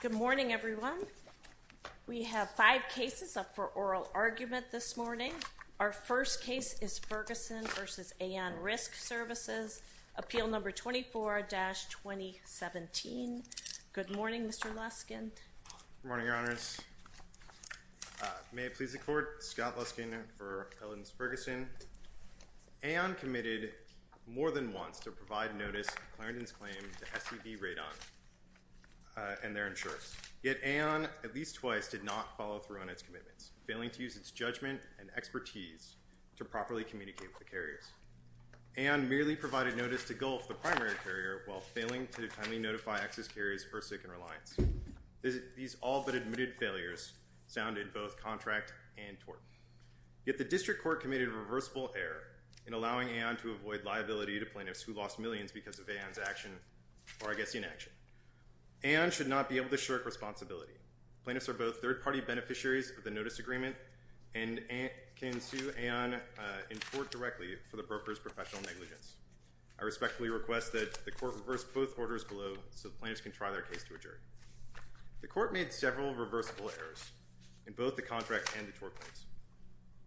Good morning everyone We have five cases up for oral argument this morning Our first case is Ferguson vs. Aon Risk Services Appeal number 24-2017 Good morning, Mr. Luskin. Good morning, Your Honors May it please the court, Scott Luskin for Elidence Ferguson Aon committed more than once to provide notice of Clarendon's claim to SCB Radon and their insurance. Yet Aon, at least twice, did not follow through on its commitments, failing to use its judgment and expertise to properly communicate with the carriers. Aon merely provided notice to Gulf, the primary carrier, while failing to timely notify access carriers Ersic and Reliance. These all-but-admitted failures sounded both contract and tort. Yet the district court committed a reversible error in allowing Aon to avoid liability to plaintiffs who lost millions because of Aon's action or I guess inaction. Aon should not be able to shirk responsibility. Plaintiffs are both third-party beneficiaries of the notice agreement and can sue Aon in court directly for the broker's professional negligence. I respectfully request that the court reverse both orders below so the plaintiffs can try their case to a jury. The court made several reversible errors in both the contract and the tort claims.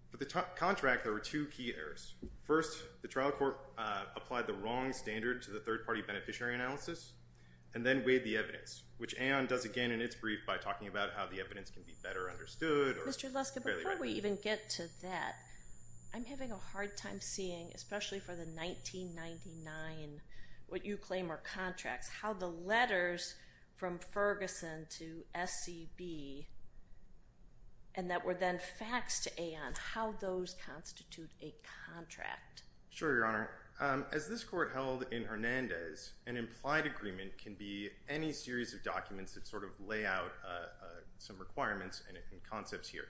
For the contract, there were two key errors. First, the trial court applied the wrong standard to the third-party beneficiary analysis and then weighed the evidence, which Aon does again in its brief by talking about how the evidence can be better understood. Mr. Luska, before we even get to that, I'm having a hard time seeing, especially for the 1999, what you claim are contracts, how the letters from Ferguson to SCB and that were then faxed to Aon, how those constitute a contract? Sure, Your Honor. As this court held in Hernandez, an implied agreement can be any series of documents that sort of lay out some requirements and concepts here.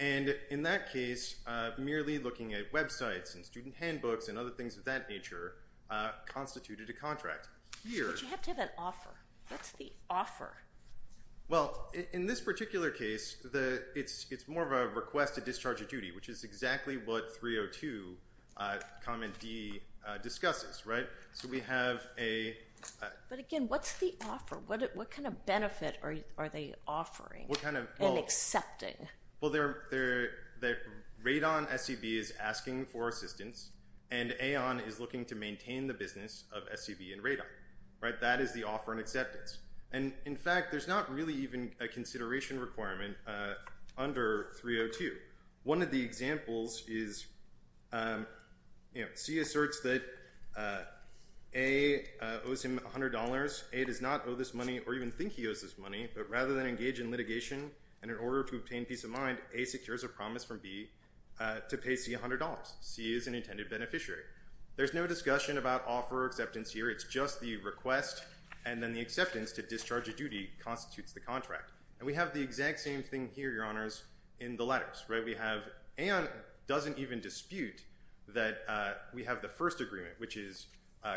And in that case, merely looking at websites and student handbooks and other things of that nature constituted a contract. What's the offer? Well, in this particular case, it's more of a request to discharge a duty, which is exactly what 302 Comment D discusses, right? So we have a... But again, what's the offer? What kind of benefit are they offering and accepting? Well, Radon SCB is asking for assistance and Aon is looking to maintain the business of SCB and Radon, right? That is the offer and acceptance. And in fact, there's not really even a consideration requirement under 302. One of the examples is you know, C asserts that A owes him $100. A does not owe this money or even think he owes this money, but rather than engage in litigation and in order to obtain peace of mind, A secures a promise from B to pay C $100. C is an intended beneficiary. There's no discussion about offer or acceptance here. It's just the request and then the acceptance to discharge a duty constitutes the contract. And we have the exact same thing here, Your Honors, in the letters, right? We have... Aon doesn't even dispute that we have the first agreement, which is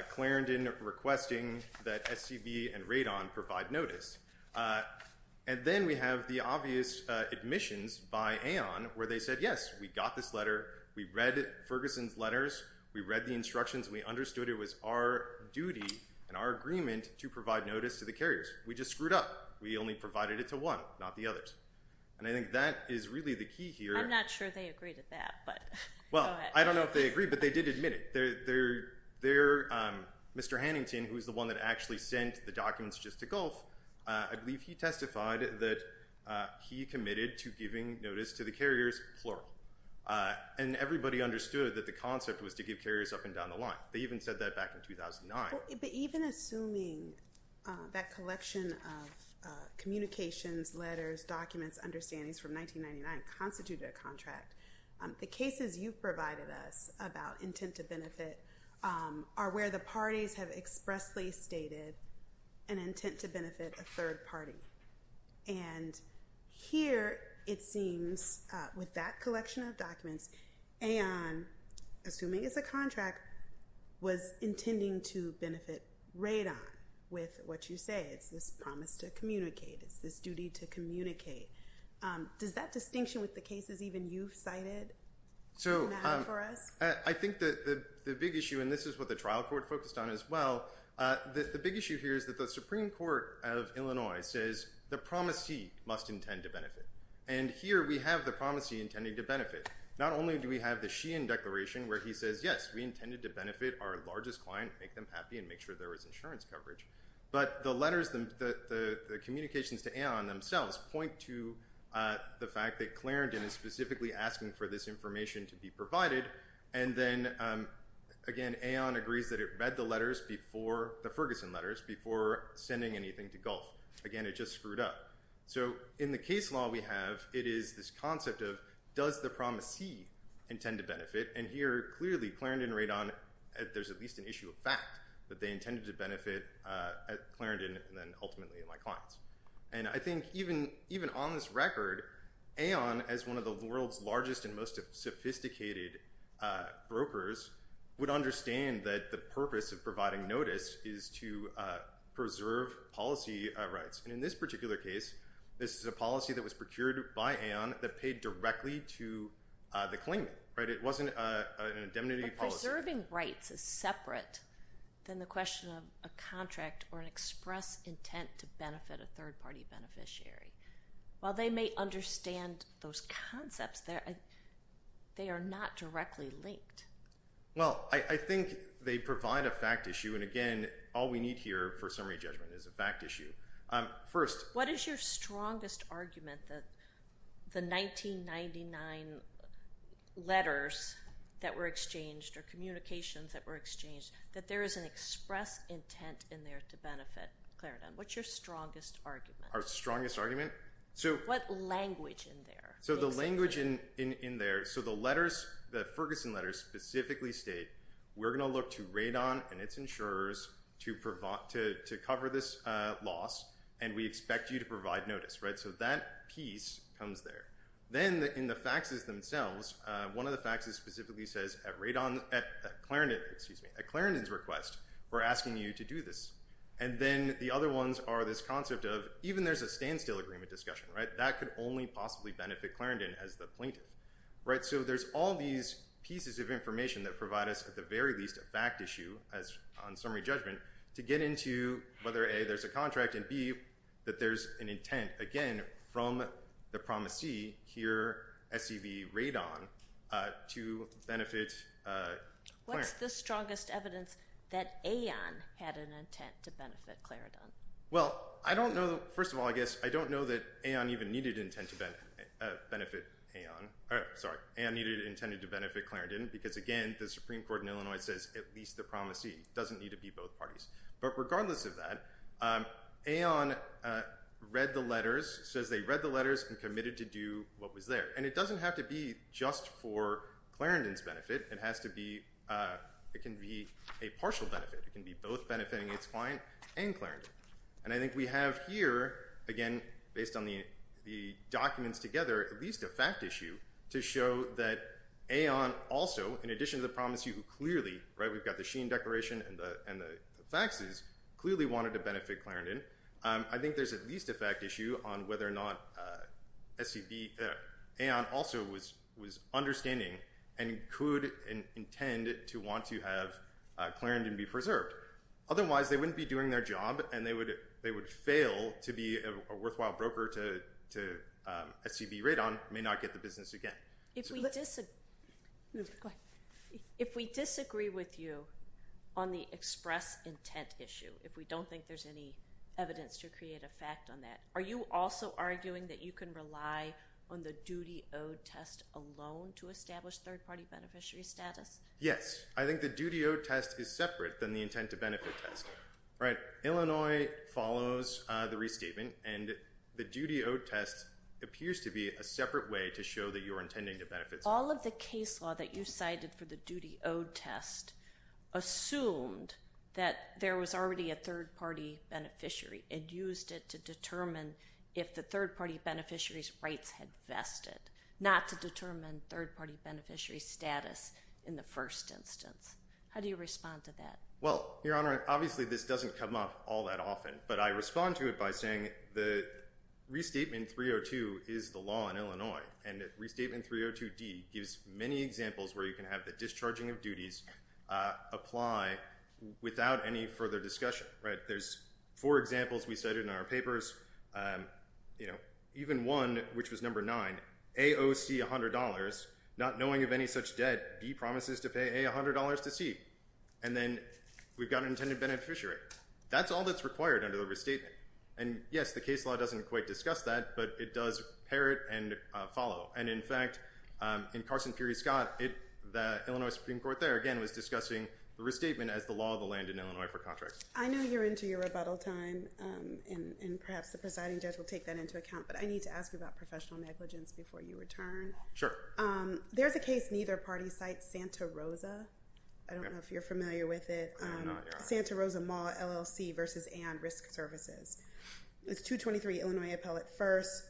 Clarendon requesting that SCB and Radon provide notice. And then we have the obvious admissions by Aon where they said, yes, we got this letter. We read Ferguson's letters. We read the instructions. We understood it was our duty and our agreement to provide notice to the carriers. We just screwed up. We only provided it to one, not the others. And I think that is really the key here. I'm not sure they agree to that, but... Well, I don't know if they agree, but they did admit it. They're... Mr. Hannington, who's the one that actually sent the documents just to Gulf, I believe he testified that he committed to giving notice to the carriers plural. And everybody understood that the concept was to give carriers up and down the line. They even said that back in 2009. But even assuming that collection of communications, letters, documents, understandings from 1999 constituted a contract, the cases you've provided us about intent to benefit are where the parties have expressly stated an intent to benefit a third party. And here it seems with that collection of documents, Aon, assuming it's a contract, was intending to benefit Radon with what you say. It's this promise to communicate. It's this duty to communicate. Does that distinction with the cases even you've cited matter for us? So, I think that the big issue, and this is what the trial court focused on as well, the big issue here is that the Supreme Court of Illinois says the promisee must intend to benefit. And here we have the promisee intending to benefit. Not only do we have the Sheehan Declaration where he says, yes, we intended to benefit our largest client, make them happy, and make sure there was insurance coverage. But the letters, the communications to Aon themselves, point to the fact that Clarendon is specifically asking for this information to be provided. And then again, Aon agrees that it read the letters before, the Ferguson letters, before sending anything to Gulf. Again, it just screwed up. So, in the case law we have, it is this concept of does the promisee intend to benefit. And here, clearly, Clarendon and Radon, there's at least an issue of fact that they intended to benefit Clarendon and then ultimately my clients. And I think even on this record, Aon, as one of the world's largest and most sophisticated brokers, would understand that the purpose of providing notice is to preserve policy rights. And in this particular case, this is a policy that was procured by Aon that paid directly to the claimant, right? It wasn't an indemnity policy. Preserving rights is separate than the question of a contract or an express intent to benefit a third-party beneficiary. While they may understand those concepts, they are not directly linked. Well, I think they provide a fact issue. And again, all we need here for summary judgment is a fact issue. First, what is your strongest argument that the 1999 letters that were exchanged or communications that were exchanged, that there is an express intent in there to benefit Clarendon? What's your strongest argument? Our strongest argument? So what language in there? So the language in there, so the letters, the Ferguson letters, specifically state we're going to look to Radon and its insurers to cover this loss and we expect you to provide notice, right? So that piece comes there. Then in the faxes themselves, one of the faxes specifically says at Clarendon's request, we're asking you to do this. And then the other ones are this concept of even there's a standstill agreement discussion, right? That could only possibly benefit Clarendon as the plaintiff, right? So there's all these pieces of information that provide us at the very least a fact issue as on summary judgment to get into whether A, there's a contract, and B, that there's an intent, again, from the promisee here, SCV Radon, to benefit Clarendon. What's the strongest evidence that Aon had an intent to benefit Clarendon? Well, I don't know. First of all, I guess I don't know that Aon even needed intent to benefit Aon. Sorry, Aon intended to benefit Clarendon because again, the Supreme Court in Illinois says at least the promisee doesn't need to be both parties. But regardless of that, read the letters, says they read the letters and committed to do what was there. And it doesn't have to be just for Clarendon's benefit. It has to be, it can be a partial benefit. It can be both benefiting its client and Clarendon. And I think we have here, again, based on the documents together, at least a fact issue to show that Aon also, in addition to the promisee who clearly, right, we've got the Sheen Declaration and the faxes, clearly wanted to benefit Clarendon. I think there's at least a fact issue on whether or not SCV, Aon also was understanding and could intend to want to have Clarendon be preserved. Otherwise, they wouldn't be doing their job and they would fail to be a worthwhile broker to SCV Radon, may not get the business again. If we disagree, if we disagree with you on the express intent issue, if we don't think there's any evidence to create a fact on that, are you also arguing that you can rely on the duty-owed test alone to establish third-party beneficiary status? Yes. I think the duty-owed test is separate than the intent-to-benefit test, right? Illinois follows the restatement and the duty-owed test appears to be a separate way to show that you're intending to benefit someone. All of the case law that you cited for the duty-owed test assumed that there was already a third-party beneficiary and used it to determine if the third-party beneficiary's rights had vested, not to determine third-party beneficiary status in the first instance. How do you respond to that? Well, Your Honor, obviously this doesn't come up all that often, but I respond to it by saying the Restatement 302 is the law in Illinois, and Restatement 302D gives many examples where you can have the discharging of duties apply without any further discussion, right? There's four examples we cited in our papers, you know, even one, which was number nine, AOC $100, not knowing of any such debt, D promises to pay A $100 to C, and then we've got an intended beneficiary. That's all that's required under the Restatement, and yes, the case law doesn't quite discuss that, but it does parrot and follow, and in fact in Carson Peery Scott, the Illinois Supreme Court there, again, was discussing the Restatement as the law of the land in Illinois for contracts. I know you're into your rebuttal time, and perhaps the presiding judge will take that into account, but I need to ask you about professional negligence before you return. Sure. There's a case neither party cites, Santa Rosa. I don't know if you're familiar with it. Santa Rosa Mall LLC versus AON Risk Services. It's 223 Illinois Appellate 1st,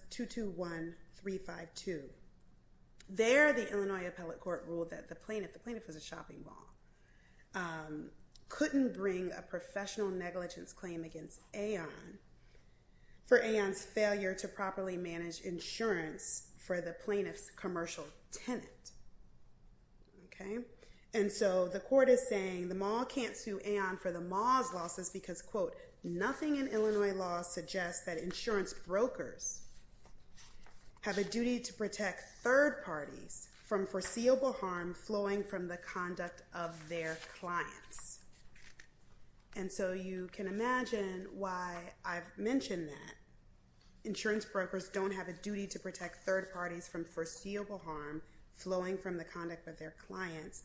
221-352. There, the Illinois Appellate Court ruled that the plaintiff, the plaintiff was a shopping mall, couldn't bring a professional negligence claim against AON for AON's failure to properly manage insurance for the plaintiff's commercial tenant. Okay, and so the court is saying the mall can't sue AON for the mall's losses because, quote, nothing in Illinois law suggests that insurance brokers have a duty to protect third parties from foreseeable harm flowing from the conduct of their clients, and so you can imagine why I've mentioned that insurance brokers don't have a duty to protect third parties from foreseeable harm flowing from the conduct of their clients,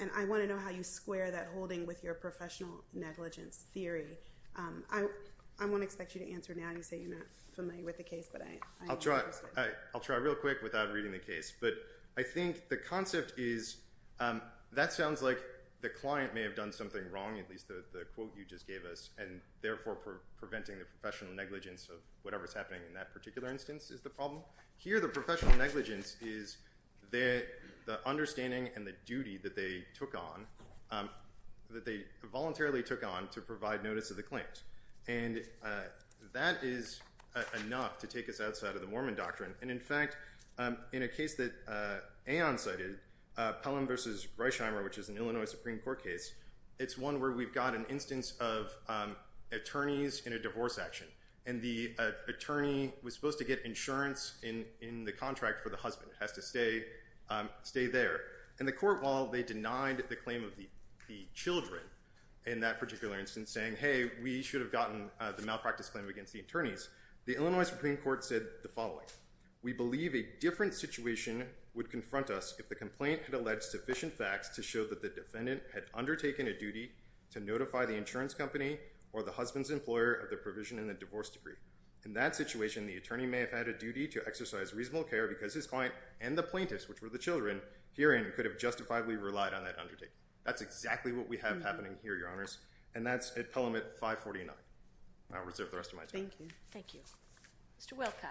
and I want to know how you square that holding with your professional negligence theory. I won't expect you to answer now. You say you're not familiar with the case, but I'll try. I'll try real quick without reading the case, but I think the concept is that sounds like the client may have done something wrong, at least the quote you just gave us, and therefore preventing the professional negligence of whatever's happening in that particular instance is the problem. Here, the professional negligence is the understanding and the duty that they took on, that they voluntarily took on, to provide notice of the claims, and that is enough to take us outside of the Mormon doctrine, and in fact, in a case that AON cited, Pelham v. Reischheimer, which is an Illinois Supreme Court case, it's one where we've got an instance of attorneys in a divorce action, and the attorney was supposed to get insurance in the contract for the husband, has to stay there, and the court, while they denied the claim of the children in that particular instance, saying, hey, we should have gotten the malpractice claim against the attorneys, the Illinois Supreme Court said the following, We believe a different situation would confront us if the complaint had alleged sufficient facts to show that the defendant had undertaken a duty to notify the insurance company or the husband's employer of the provision in the divorce decree. In that situation, the attorney may have had a duty to exercise reasonable care because his client and the plaintiffs, which were the children, herein could have justifiably relied on that undertaking. That's exactly what we have happening here, Your Honors, and that's at Pelham at 549. I'll reserve the rest of my time. Thank you. Thank you. Mr. Wilcox.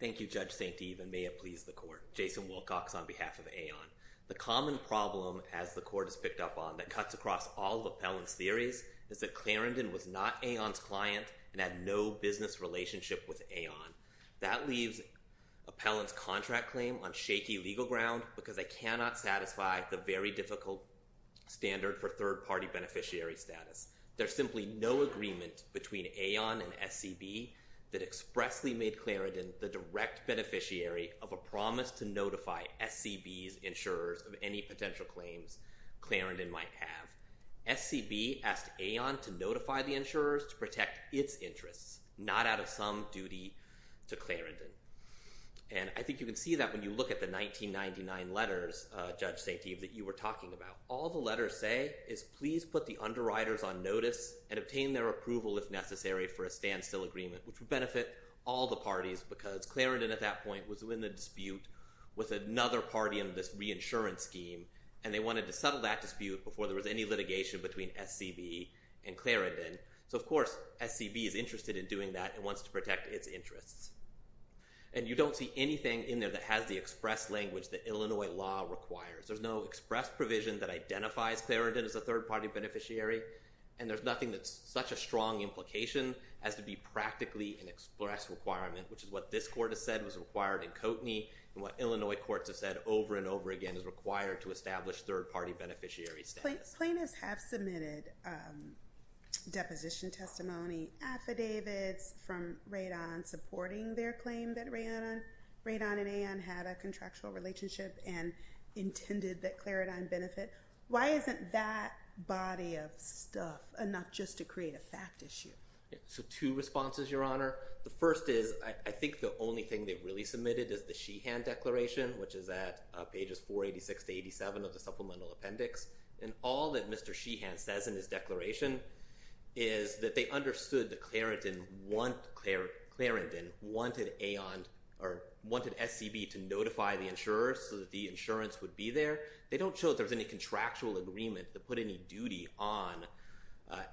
Thank you, Judge St. Eve, and may it please the court. Jason Wilcox on behalf of AON. The common problem, as the court has picked up on, that cuts across all of Appellant's theories is that Clarendon was not AON's client and had no business relationship with AON. That leaves Appellant's contract claim on shaky legal ground because they cannot satisfy the very difficult standard for third-party beneficiary status. There's simply no agreement between AON and SCB that expressly made Clarendon the direct beneficiary of a promise to notify SCB's insurers of any potential claims Clarendon might have. SCB asked AON to notify the insurers to protect its interests, not out of some duty to Clarendon. And I think you can see that when you look at the 1999 letters, Judge St. Eve, that you were talking about. All the letters say is please put the underwriters on notice and obtain their approval if necessary for a standstill agreement, which would benefit all the parties because Clarendon at that point was in the dispute with another party in this reinsurance scheme, and they wanted to settle that dispute before there was any litigation between SCB and Clarendon. So, of course, SCB is interested in doing that and wants to protect its interests. And you don't see anything in there that has the express language that Illinois law requires. There's no express provision that identifies Clarendon as a third-party beneficiary, and there's nothing that's such a strong implication as to be practically an express requirement, which is what this court has said was required in Coteny and what Illinois courts have said over and over again is required to establish third-party beneficiary status. Plaintiffs have submitted deposition testimony, affidavits from Radon supporting their claim that Radon and Aon had a contractual relationship and intended that Clarendon benefit. Why isn't that body of stuff enough just to create a fact issue? So two responses, Your Honor. The first is I think the only thing they've really submitted is the Sheehan Declaration, which is at pages 486 to 87 of the Supplemental Appendix, and all that Mr. Sheehan says in his declaration is that they understood that Clarendon wanted Aon or wanted SCB to notify the insurers so that the insurance would be there. They don't show that there's any contractual agreement to put any duty on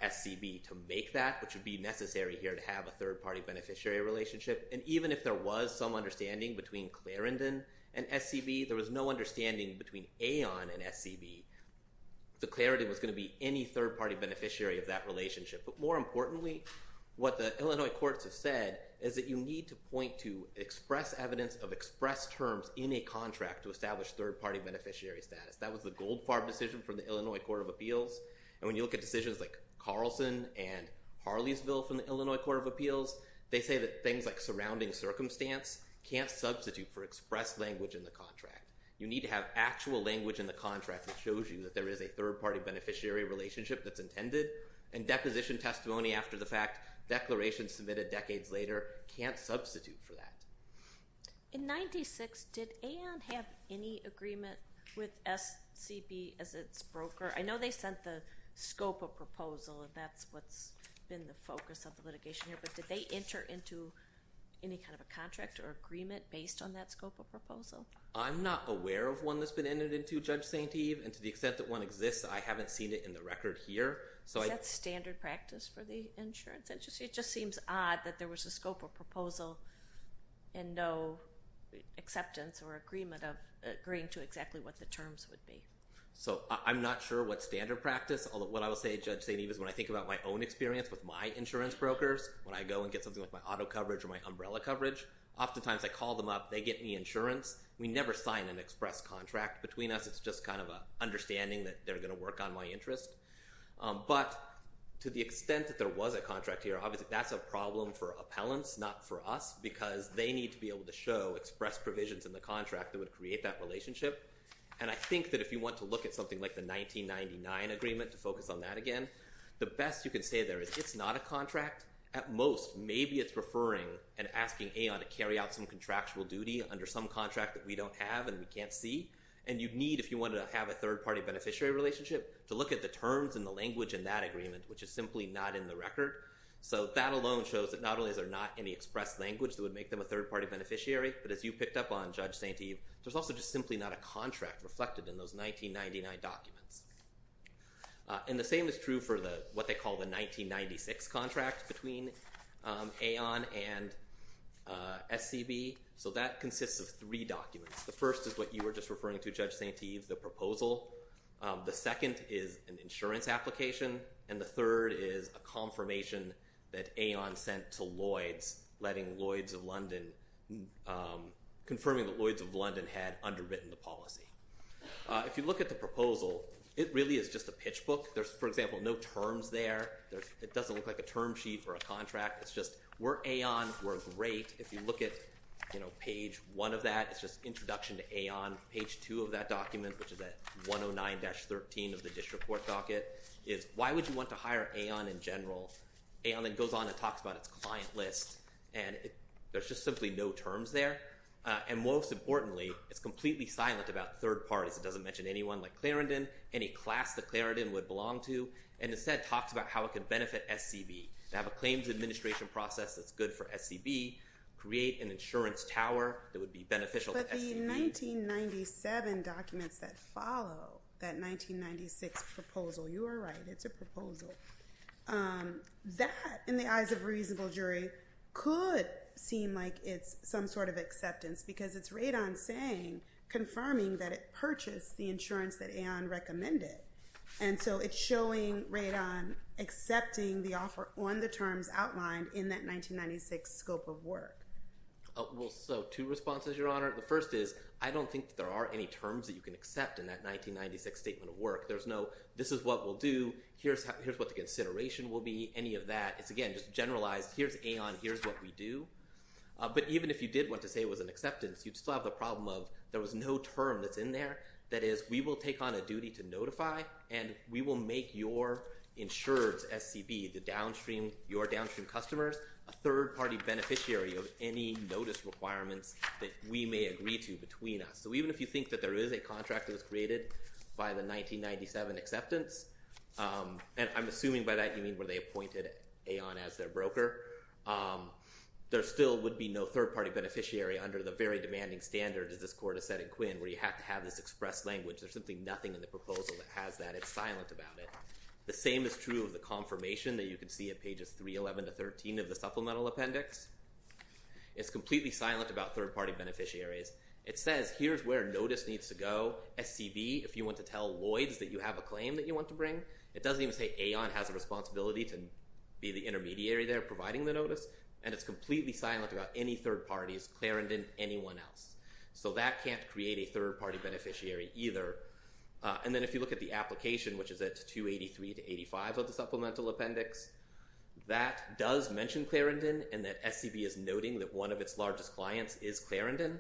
SCB to make that, which would be necessary here to have a third-party beneficiary relationship. And even if there was some understanding between Clarendon and SCB, there was no understanding between Aon and SCB. The Clarendon was going to be any third-party beneficiary of that relationship. But more importantly, what the Illinois courts have said is that you need to point to express evidence of express terms in a contract to establish third-party beneficiary status. That was the Goldfarb decision from the Illinois Court of Appeals. And when you look at decisions like Carlson and Harleysville from the Illinois Court of Appeals, they say that things like surrounding circumstance can't substitute for express language in the contract. You need to have actual language in the contract that shows you that there is a third-party beneficiary relationship that's intended, and deposition testimony after the fact, declaration submitted decades later, can't substitute for that. In 96, did Aon have any agreement with SCB as its broker? I know they sent the scope of proposal and that's what's been the focus of the litigation here, but did they enter into any kind of a contract or agreement based on that scope of proposal? I'm not aware of one that's been entered into, Judge St. Eve, and to the extent that one exists, I haven't seen it in the record here. Is that standard practice for the insurance industry? It just seems odd that there was a scope of proposal and no acceptance or agreement of agreeing to exactly what the terms would be. So I'm not sure what standard practice, although what I will say, Judge St. Eve, is when I think about my own experience with my insurance brokers, when I go and get something like my auto coverage or my umbrella coverage, oftentimes I call them up, they get me insurance. We never sign an express contract. Between us, it's just kind of an understanding that they're going to work on my interest. But to the extent that there was a contract here, obviously that's a problem for appellants, not for us, because they need to be able to show express provisions in the contract that would create that relationship. And I think that if you want to look at something like the 1999 agreement, to focus on that again, the best you can say there is it's not a contract. At most, maybe it's referring and asking AON to carry out some contractual duty under some contract that we don't have and we can't see, and you'd need, if you wanted to have a third-party beneficiary relationship, to look at the terms and the language in that agreement, which is simply not in the record. So that alone shows that not only is there not any express language that would make them a third-party beneficiary, but as you picked up on, Judge St. Eve, there's also just simply not a contract reflected in those 1999 documents. And the same is true for what they call the 1996 contract between AON and SCB. So that consists of three documents. The first is what you were just referring to, Judge St. Eve, the proposal. The second is an insurance application, and the third is a confirmation that AON sent to Lloyds, letting Lloyds of London, confirming that Lloyds of London had underwritten the policy. If you look at the proposal, it really is just a pitch book. There's, for example, no terms there. It doesn't look like a term sheet for a contract. It's just, we're AON, we're great. If you look at, you know, page one of that, it's just introduction to AON. Page two of that document, which is at 109-13 of the district court docket, is why would you want to hire AON in general? AON then goes on and talks about its client list, and there's just simply no terms there. And most importantly, it's completely silent about third parties. It doesn't mention anyone like Clarendon, any class that Clarendon would belong to, and instead talks about how it could benefit SCB, to have a claims administration process that's good for SCB, create an insurance tower that would be beneficial to SCB. But the 1997 documents that follow that 1996 proposal, you are right, it's a proposal, that, in the eyes of a reasonable jury, could seem like it's some sort of acceptance because it's Radon saying, confirming that it purchased the insurance that AON recommended. And so it's showing Radon accepting the offer on the terms outlined in that 1996 scope of work. Well, so two responses, Your Honor. The first is, I don't think there are any terms that you can accept in that 1996 statement of work. There's no, this is what we'll do, here's what the consideration will be, any of that. It's, again, just generalized. Here's AON, here's what we do. But even if you did want to say it was an acceptance, you'd still have the problem of there was no term that's in there that is, we will take on a duty to notify and we will make your insured SCB, the downstream, your downstream customers, a third-party beneficiary of any notice requirements that we may agree to between us. So even if you think that there is a contract that was created by the 1997 acceptance, and I'm assuming by that you mean where they appointed AON as their broker, there still would be no third-party beneficiary under the very demanding standard, as this Court has said in Quinn, where you have to have this express language. There's simply nothing in the proposal that has that. It's silent about it. The same is true of the confirmation that you can see at pages 311 to 313 of the supplemental appendix. It's completely silent about third-party beneficiaries. It says, here's where notice needs to go. SCB, if you want to tell Lloyd's that you have a claim that you want to bring, it doesn't even say AON has a right to be providing the notice, and it's completely silent about any third parties, Clarendon, anyone else. So that can't create a third-party beneficiary either. And then if you look at the application, which is at 283 to 85 of the supplemental appendix, that does mention Clarendon and that SCB is noting that one of its largest clients is Clarendon.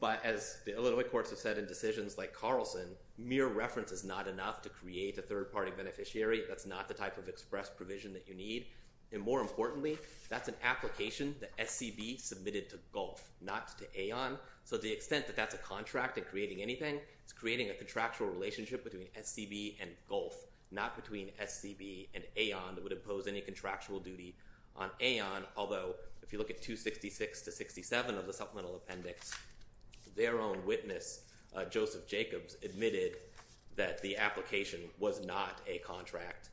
But as the Illinois courts have said in decisions like Carlson, mere reference is not enough to create a third-party beneficiary. That's not the type of express provision that you need. And more importantly, that's an application that SCB submitted to Gulf, not to AON. So to the extent that that's a contract in creating anything, it's creating a contractual relationship between SCB and Gulf, not between SCB and AON that would impose any contractual duty on AON, although if you look at 266 to 67 of the supplemental appendix, their own witness, Joseph Jacobs, admitted that the application was not a contract.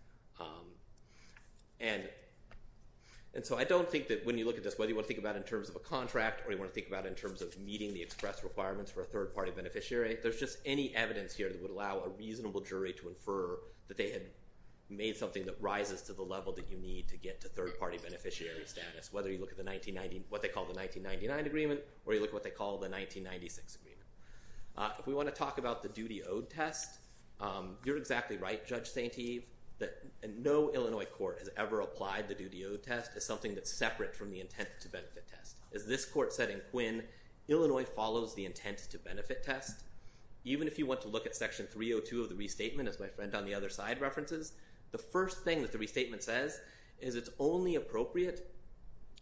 And so I don't think that when you look at this, whether you want to think about it in terms of a contract or you want to think about it in terms of meeting the express requirements for a third-party beneficiary, there's just any evidence here that would allow a reasonable jury to infer that they had made something that rises to the level that you need to get to third-party beneficiary status. Whether you look at the 1990, what they call the 1999 agreement, or you look at what they call the 1996 agreement. If we want to talk about the duty owed test, you're exactly right, Judge St. Eve, that no Illinois court has ever applied the duty owed test as something that's separate from the intent to benefit test. As this court said in Quinn, Illinois follows the intent to benefit test. Even if you want to look at section 302 of the restatement, as my friend on the other side references, the first thing that the restatement says is it's only appropriate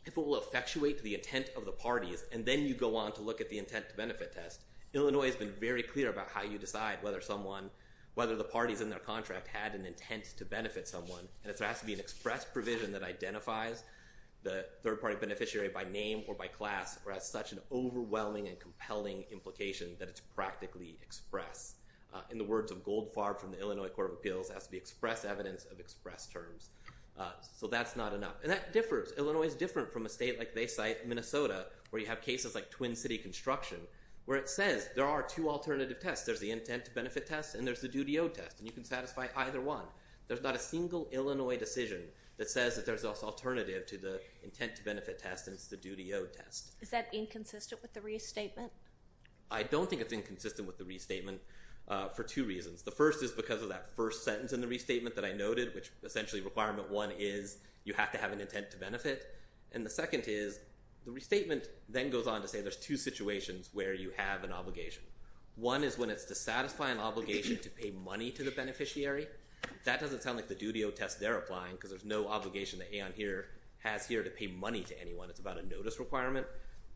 if it will effectuate the intent of the parties. And then you go on to look at the intent to benefit test. Illinois has been very clear about how you decide whether someone, whether the parties in their contract had an intent to benefit someone. And if there has to be an express provision that identifies the third-party beneficiary by name or by class, or has such an overwhelming and compelling implication that it's practically expressed. In the words of Goldfarb from the Illinois Court of Appeals, it has to be express evidence of express terms. So that's not enough. And that differs. Illinois is different from a state like they cite, Minnesota, where you have cases like Twin City Construction, where it says there are two alternative tests. There's the intent to benefit test and there's the duty owed test. And you can satisfy either one. There's not a single Illinois decision that says that there's an alternative to the intent to benefit test and it's the duty owed test. Is that inconsistent with the restatement? I don't think it's inconsistent with the restatement. For two reasons. The first is because of that first sentence in the restatement that I noted, which essentially requirement one is you have to have an intent to benefit. And the second is the restatement then goes on to say there's two situations where you have an obligation. One is when it's to satisfy an obligation to pay money to the beneficiary. That doesn't sound like the duty owed test they're applying because there's no obligation that Aon here has here to pay money to anyone. It's about a notice requirement.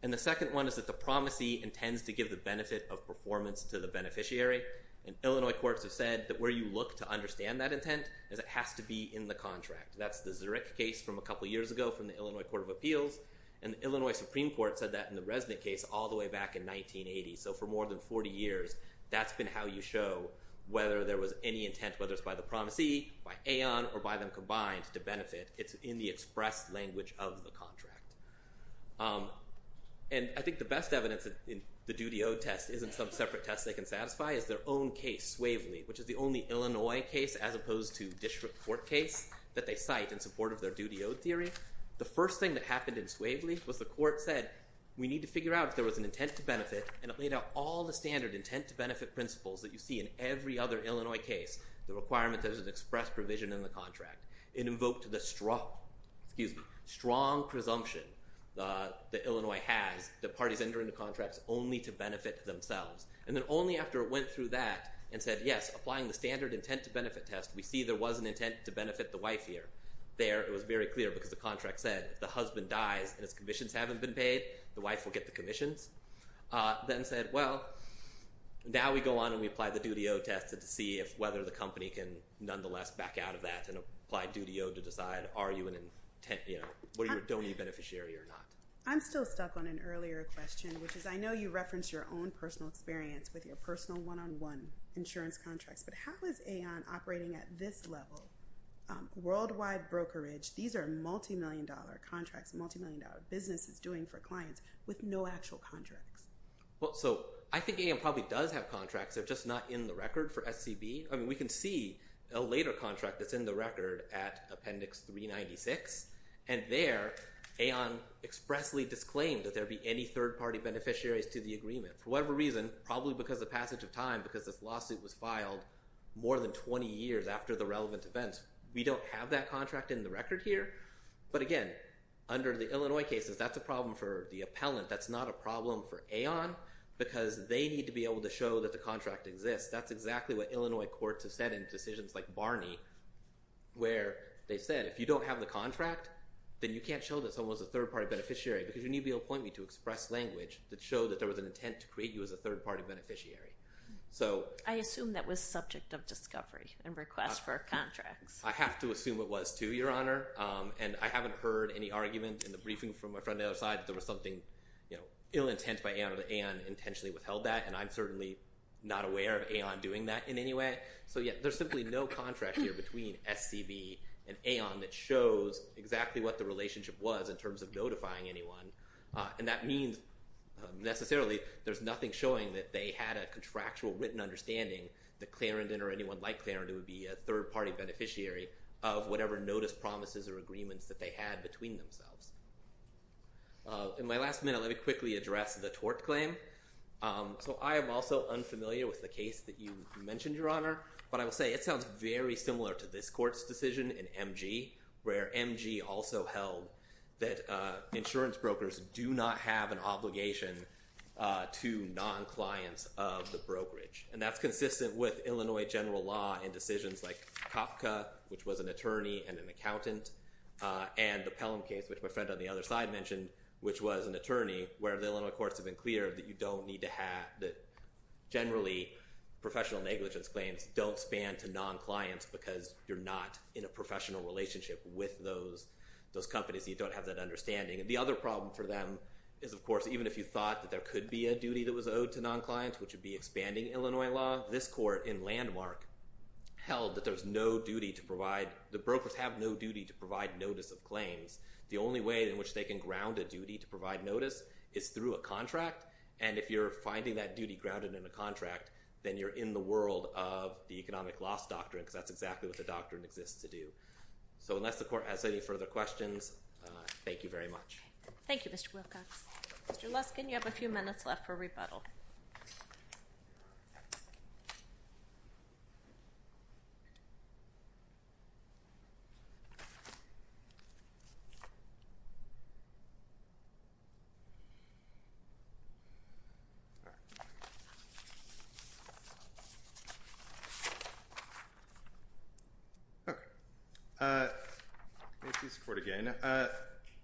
And the second one is that the promisee intends to give the benefit of performance to the beneficiary. And Illinois courts have said that where you look to understand that intent is it has to be in the contract. That's the Zurich case from a couple of years ago from the Illinois Court of Appeals. And the Illinois Supreme Court said that in the Resnick case all the way back in 1980. So for more than 40 years, that's been how you show whether there was any intent, whether it's by the promisee, by Aon, or by them combined to benefit. It's in the express language of the contract. And I think the best evidence in the duty owed test isn't some separate test they can satisfy. It's their own case, Swavely, which is the only Illinois case as opposed to district court case that they cite in support of their duty owed theory. The first thing that happened in Swavely was the court said we need to figure out if there was an intent to benefit. And it laid out all the standard intent to benefit principles that you see in every other Illinois case. The requirement that there's an express provision in the contract. It invoked the strong presumption that Illinois has that parties enter into contracts only to benefit themselves. And then only after it went through that and said, yes, applying the standard intent to benefit test, we see there was an intent to benefit the wife here. There it was very clear because the contract said if the husband dies and his commissions haven't been paid, the wife will get the commissions. Then said, well, now we go on and we apply the duty owed test to see if whether the company can nonetheless back out of that and apply duty owed to decide are you an intent, you know, what are you, don't you beneficiary or not? I'm still stuck on an earlier question, which is I know you referenced your own personal experience with your personal one on one insurance contracts, but how is AON operating at this level? Worldwide brokerage. These are multimillion dollar contracts, multimillion dollar business is doing for clients with no actual contracts. Well, so I think AON probably does have contracts. They're just not in the record for SCB. I mean, we can see a later contract that's in the record at Appendix 396 and there AON expressly disclaimed that there'd be any third party beneficiaries to the agreement. For whatever reason, probably because the passage of time, because this lawsuit was filed more than 20 years after the relevant events. We don't have that contract in the record here. But again, under the Illinois cases, that's a problem for the appellant. That's not a problem for AON because they need to be able to show that the contract exists. That's exactly what Illinois courts have said in decisions like Barney, where they said if you don't have the contract, then you can't show that someone was a third party beneficiary because you need the appointment to express language that showed that there was an intent to create you as a third party beneficiary. I assume that was subject of discovery and request for contracts. I have to assume it was, too, Your Honor. And I haven't heard any argument in the briefing from my friend on the other side that there was something ill intent by AON that AON intentionally withheld that. And I'm certainly not aware of AON doing that in any way. So, yeah, there's simply no contract here between SCB and AON that shows exactly what the relationship was in terms of notifying anyone. And that means, necessarily, there's nothing showing that they had a contractual written understanding that Clarendon or anyone like Clarendon would be a third party beneficiary of whatever notice, promises, or agreements that they had between themselves. In my last minute, let me quickly address the tort claim. So I am also unfamiliar with the case that you mentioned, Your Honor. But I will say it sounds very similar to this court's decision in MG, where MG also held that insurance brokers do not have an obligation to non-clients of the brokerage. And that's consistent with Illinois general law in decisions like Kafka, which was an attorney and an accountant, and the Pelham case, which my friend on the other side mentioned, which was an attorney, where the Illinois courts have been clear that you don't need to have, that generally professional negligence claims don't span to non-clients because you're not in a professional relationship with those companies. You don't have that understanding. And the other problem for them is, of course, even if you thought that there could be a duty that was owed to non-clients, which would be expanding Illinois law, this court in Landmark held that there's no duty to provide, the brokers have no duty to provide notice of claims. The only way in which they can ground a duty to provide notice is through a contract. And if you're finding that duty grounded in a contract, then you're in the world of the economic loss doctrine, because that's exactly what the doctrine exists to do. So unless the court has any further questions, thank you very much. Thank you, Mr. Wilcox. Mr. Luskin, you have a few minutes left for rebuttal. Thank you, Mr. Court, again.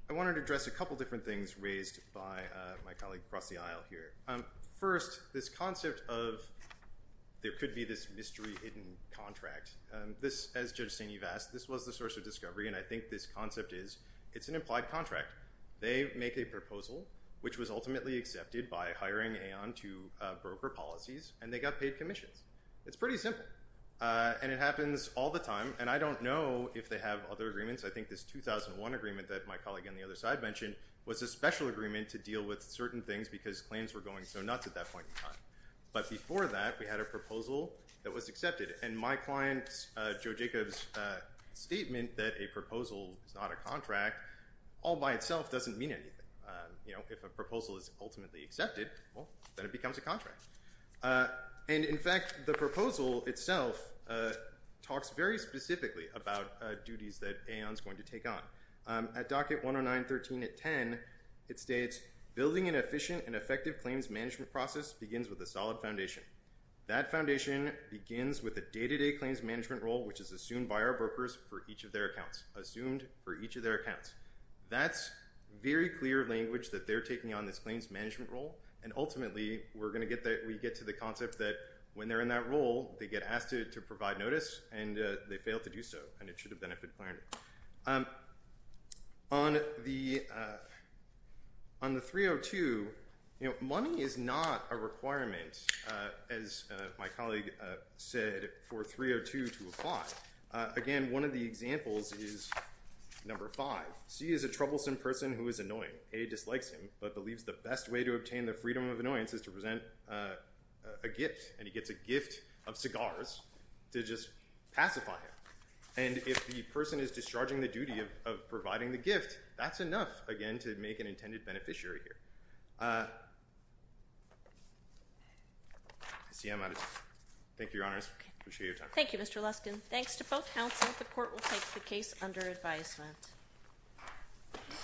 I wanted to address a couple different things raised by my colleague across the aisle here. First, this concept of there could be this mystery hidden contract. This, as Judge St-Yves asked, this was the source of discovery, and I think this concept is it's an implied contract. They make a proposal, which was ultimately accepted by hiring Aon to broker policies, and they got paid commissions. It's pretty simple, and it happens all the time. And I don't know if they have other agreements. I think this 2001 agreement that my colleague on the other side mentioned was a special agreement to deal with certain things because claims were going so nuts at that point in time. But before that, we had a proposal that was accepted. And my client, Joe Jacobs' statement that a proposal is not a contract, all by itself doesn't mean anything. You know, if a proposal is ultimately accepted, well, then it becomes a contract. And in fact, the proposal itself talks very specifically about duties that Aon's going to take on. At docket 109.13.10, it states, building an efficient and effective claims management process begins with a solid foundation. That foundation begins with a day-to-day claims management role, which is assumed by our brokers for each of their accounts, assumed for each of their accounts. That's very clear language that they're taking on this claims management role, and ultimately, we get to the concept that when they're in that role, they get asked to provide notice, and they fail to do so, and it should have been a good plan. On the 302, you know, money is not a requirement, as my colleague said, for 302 to apply. Again, one of the examples is number five. C is a troublesome person who is annoying. A dislikes him but believes the best way to obtain the freedom of annoyance is to present a gift, and he gets a gift of cigars to just pacify him. And if the person is discharging the duty of providing the gift, that's enough, again, to make an intended beneficiary here. I see I'm out of time. Thank you, Your Honors. I appreciate your time. Thank you, Mr. Luskin. Thanks to both counsel, the court will take the case under advisement.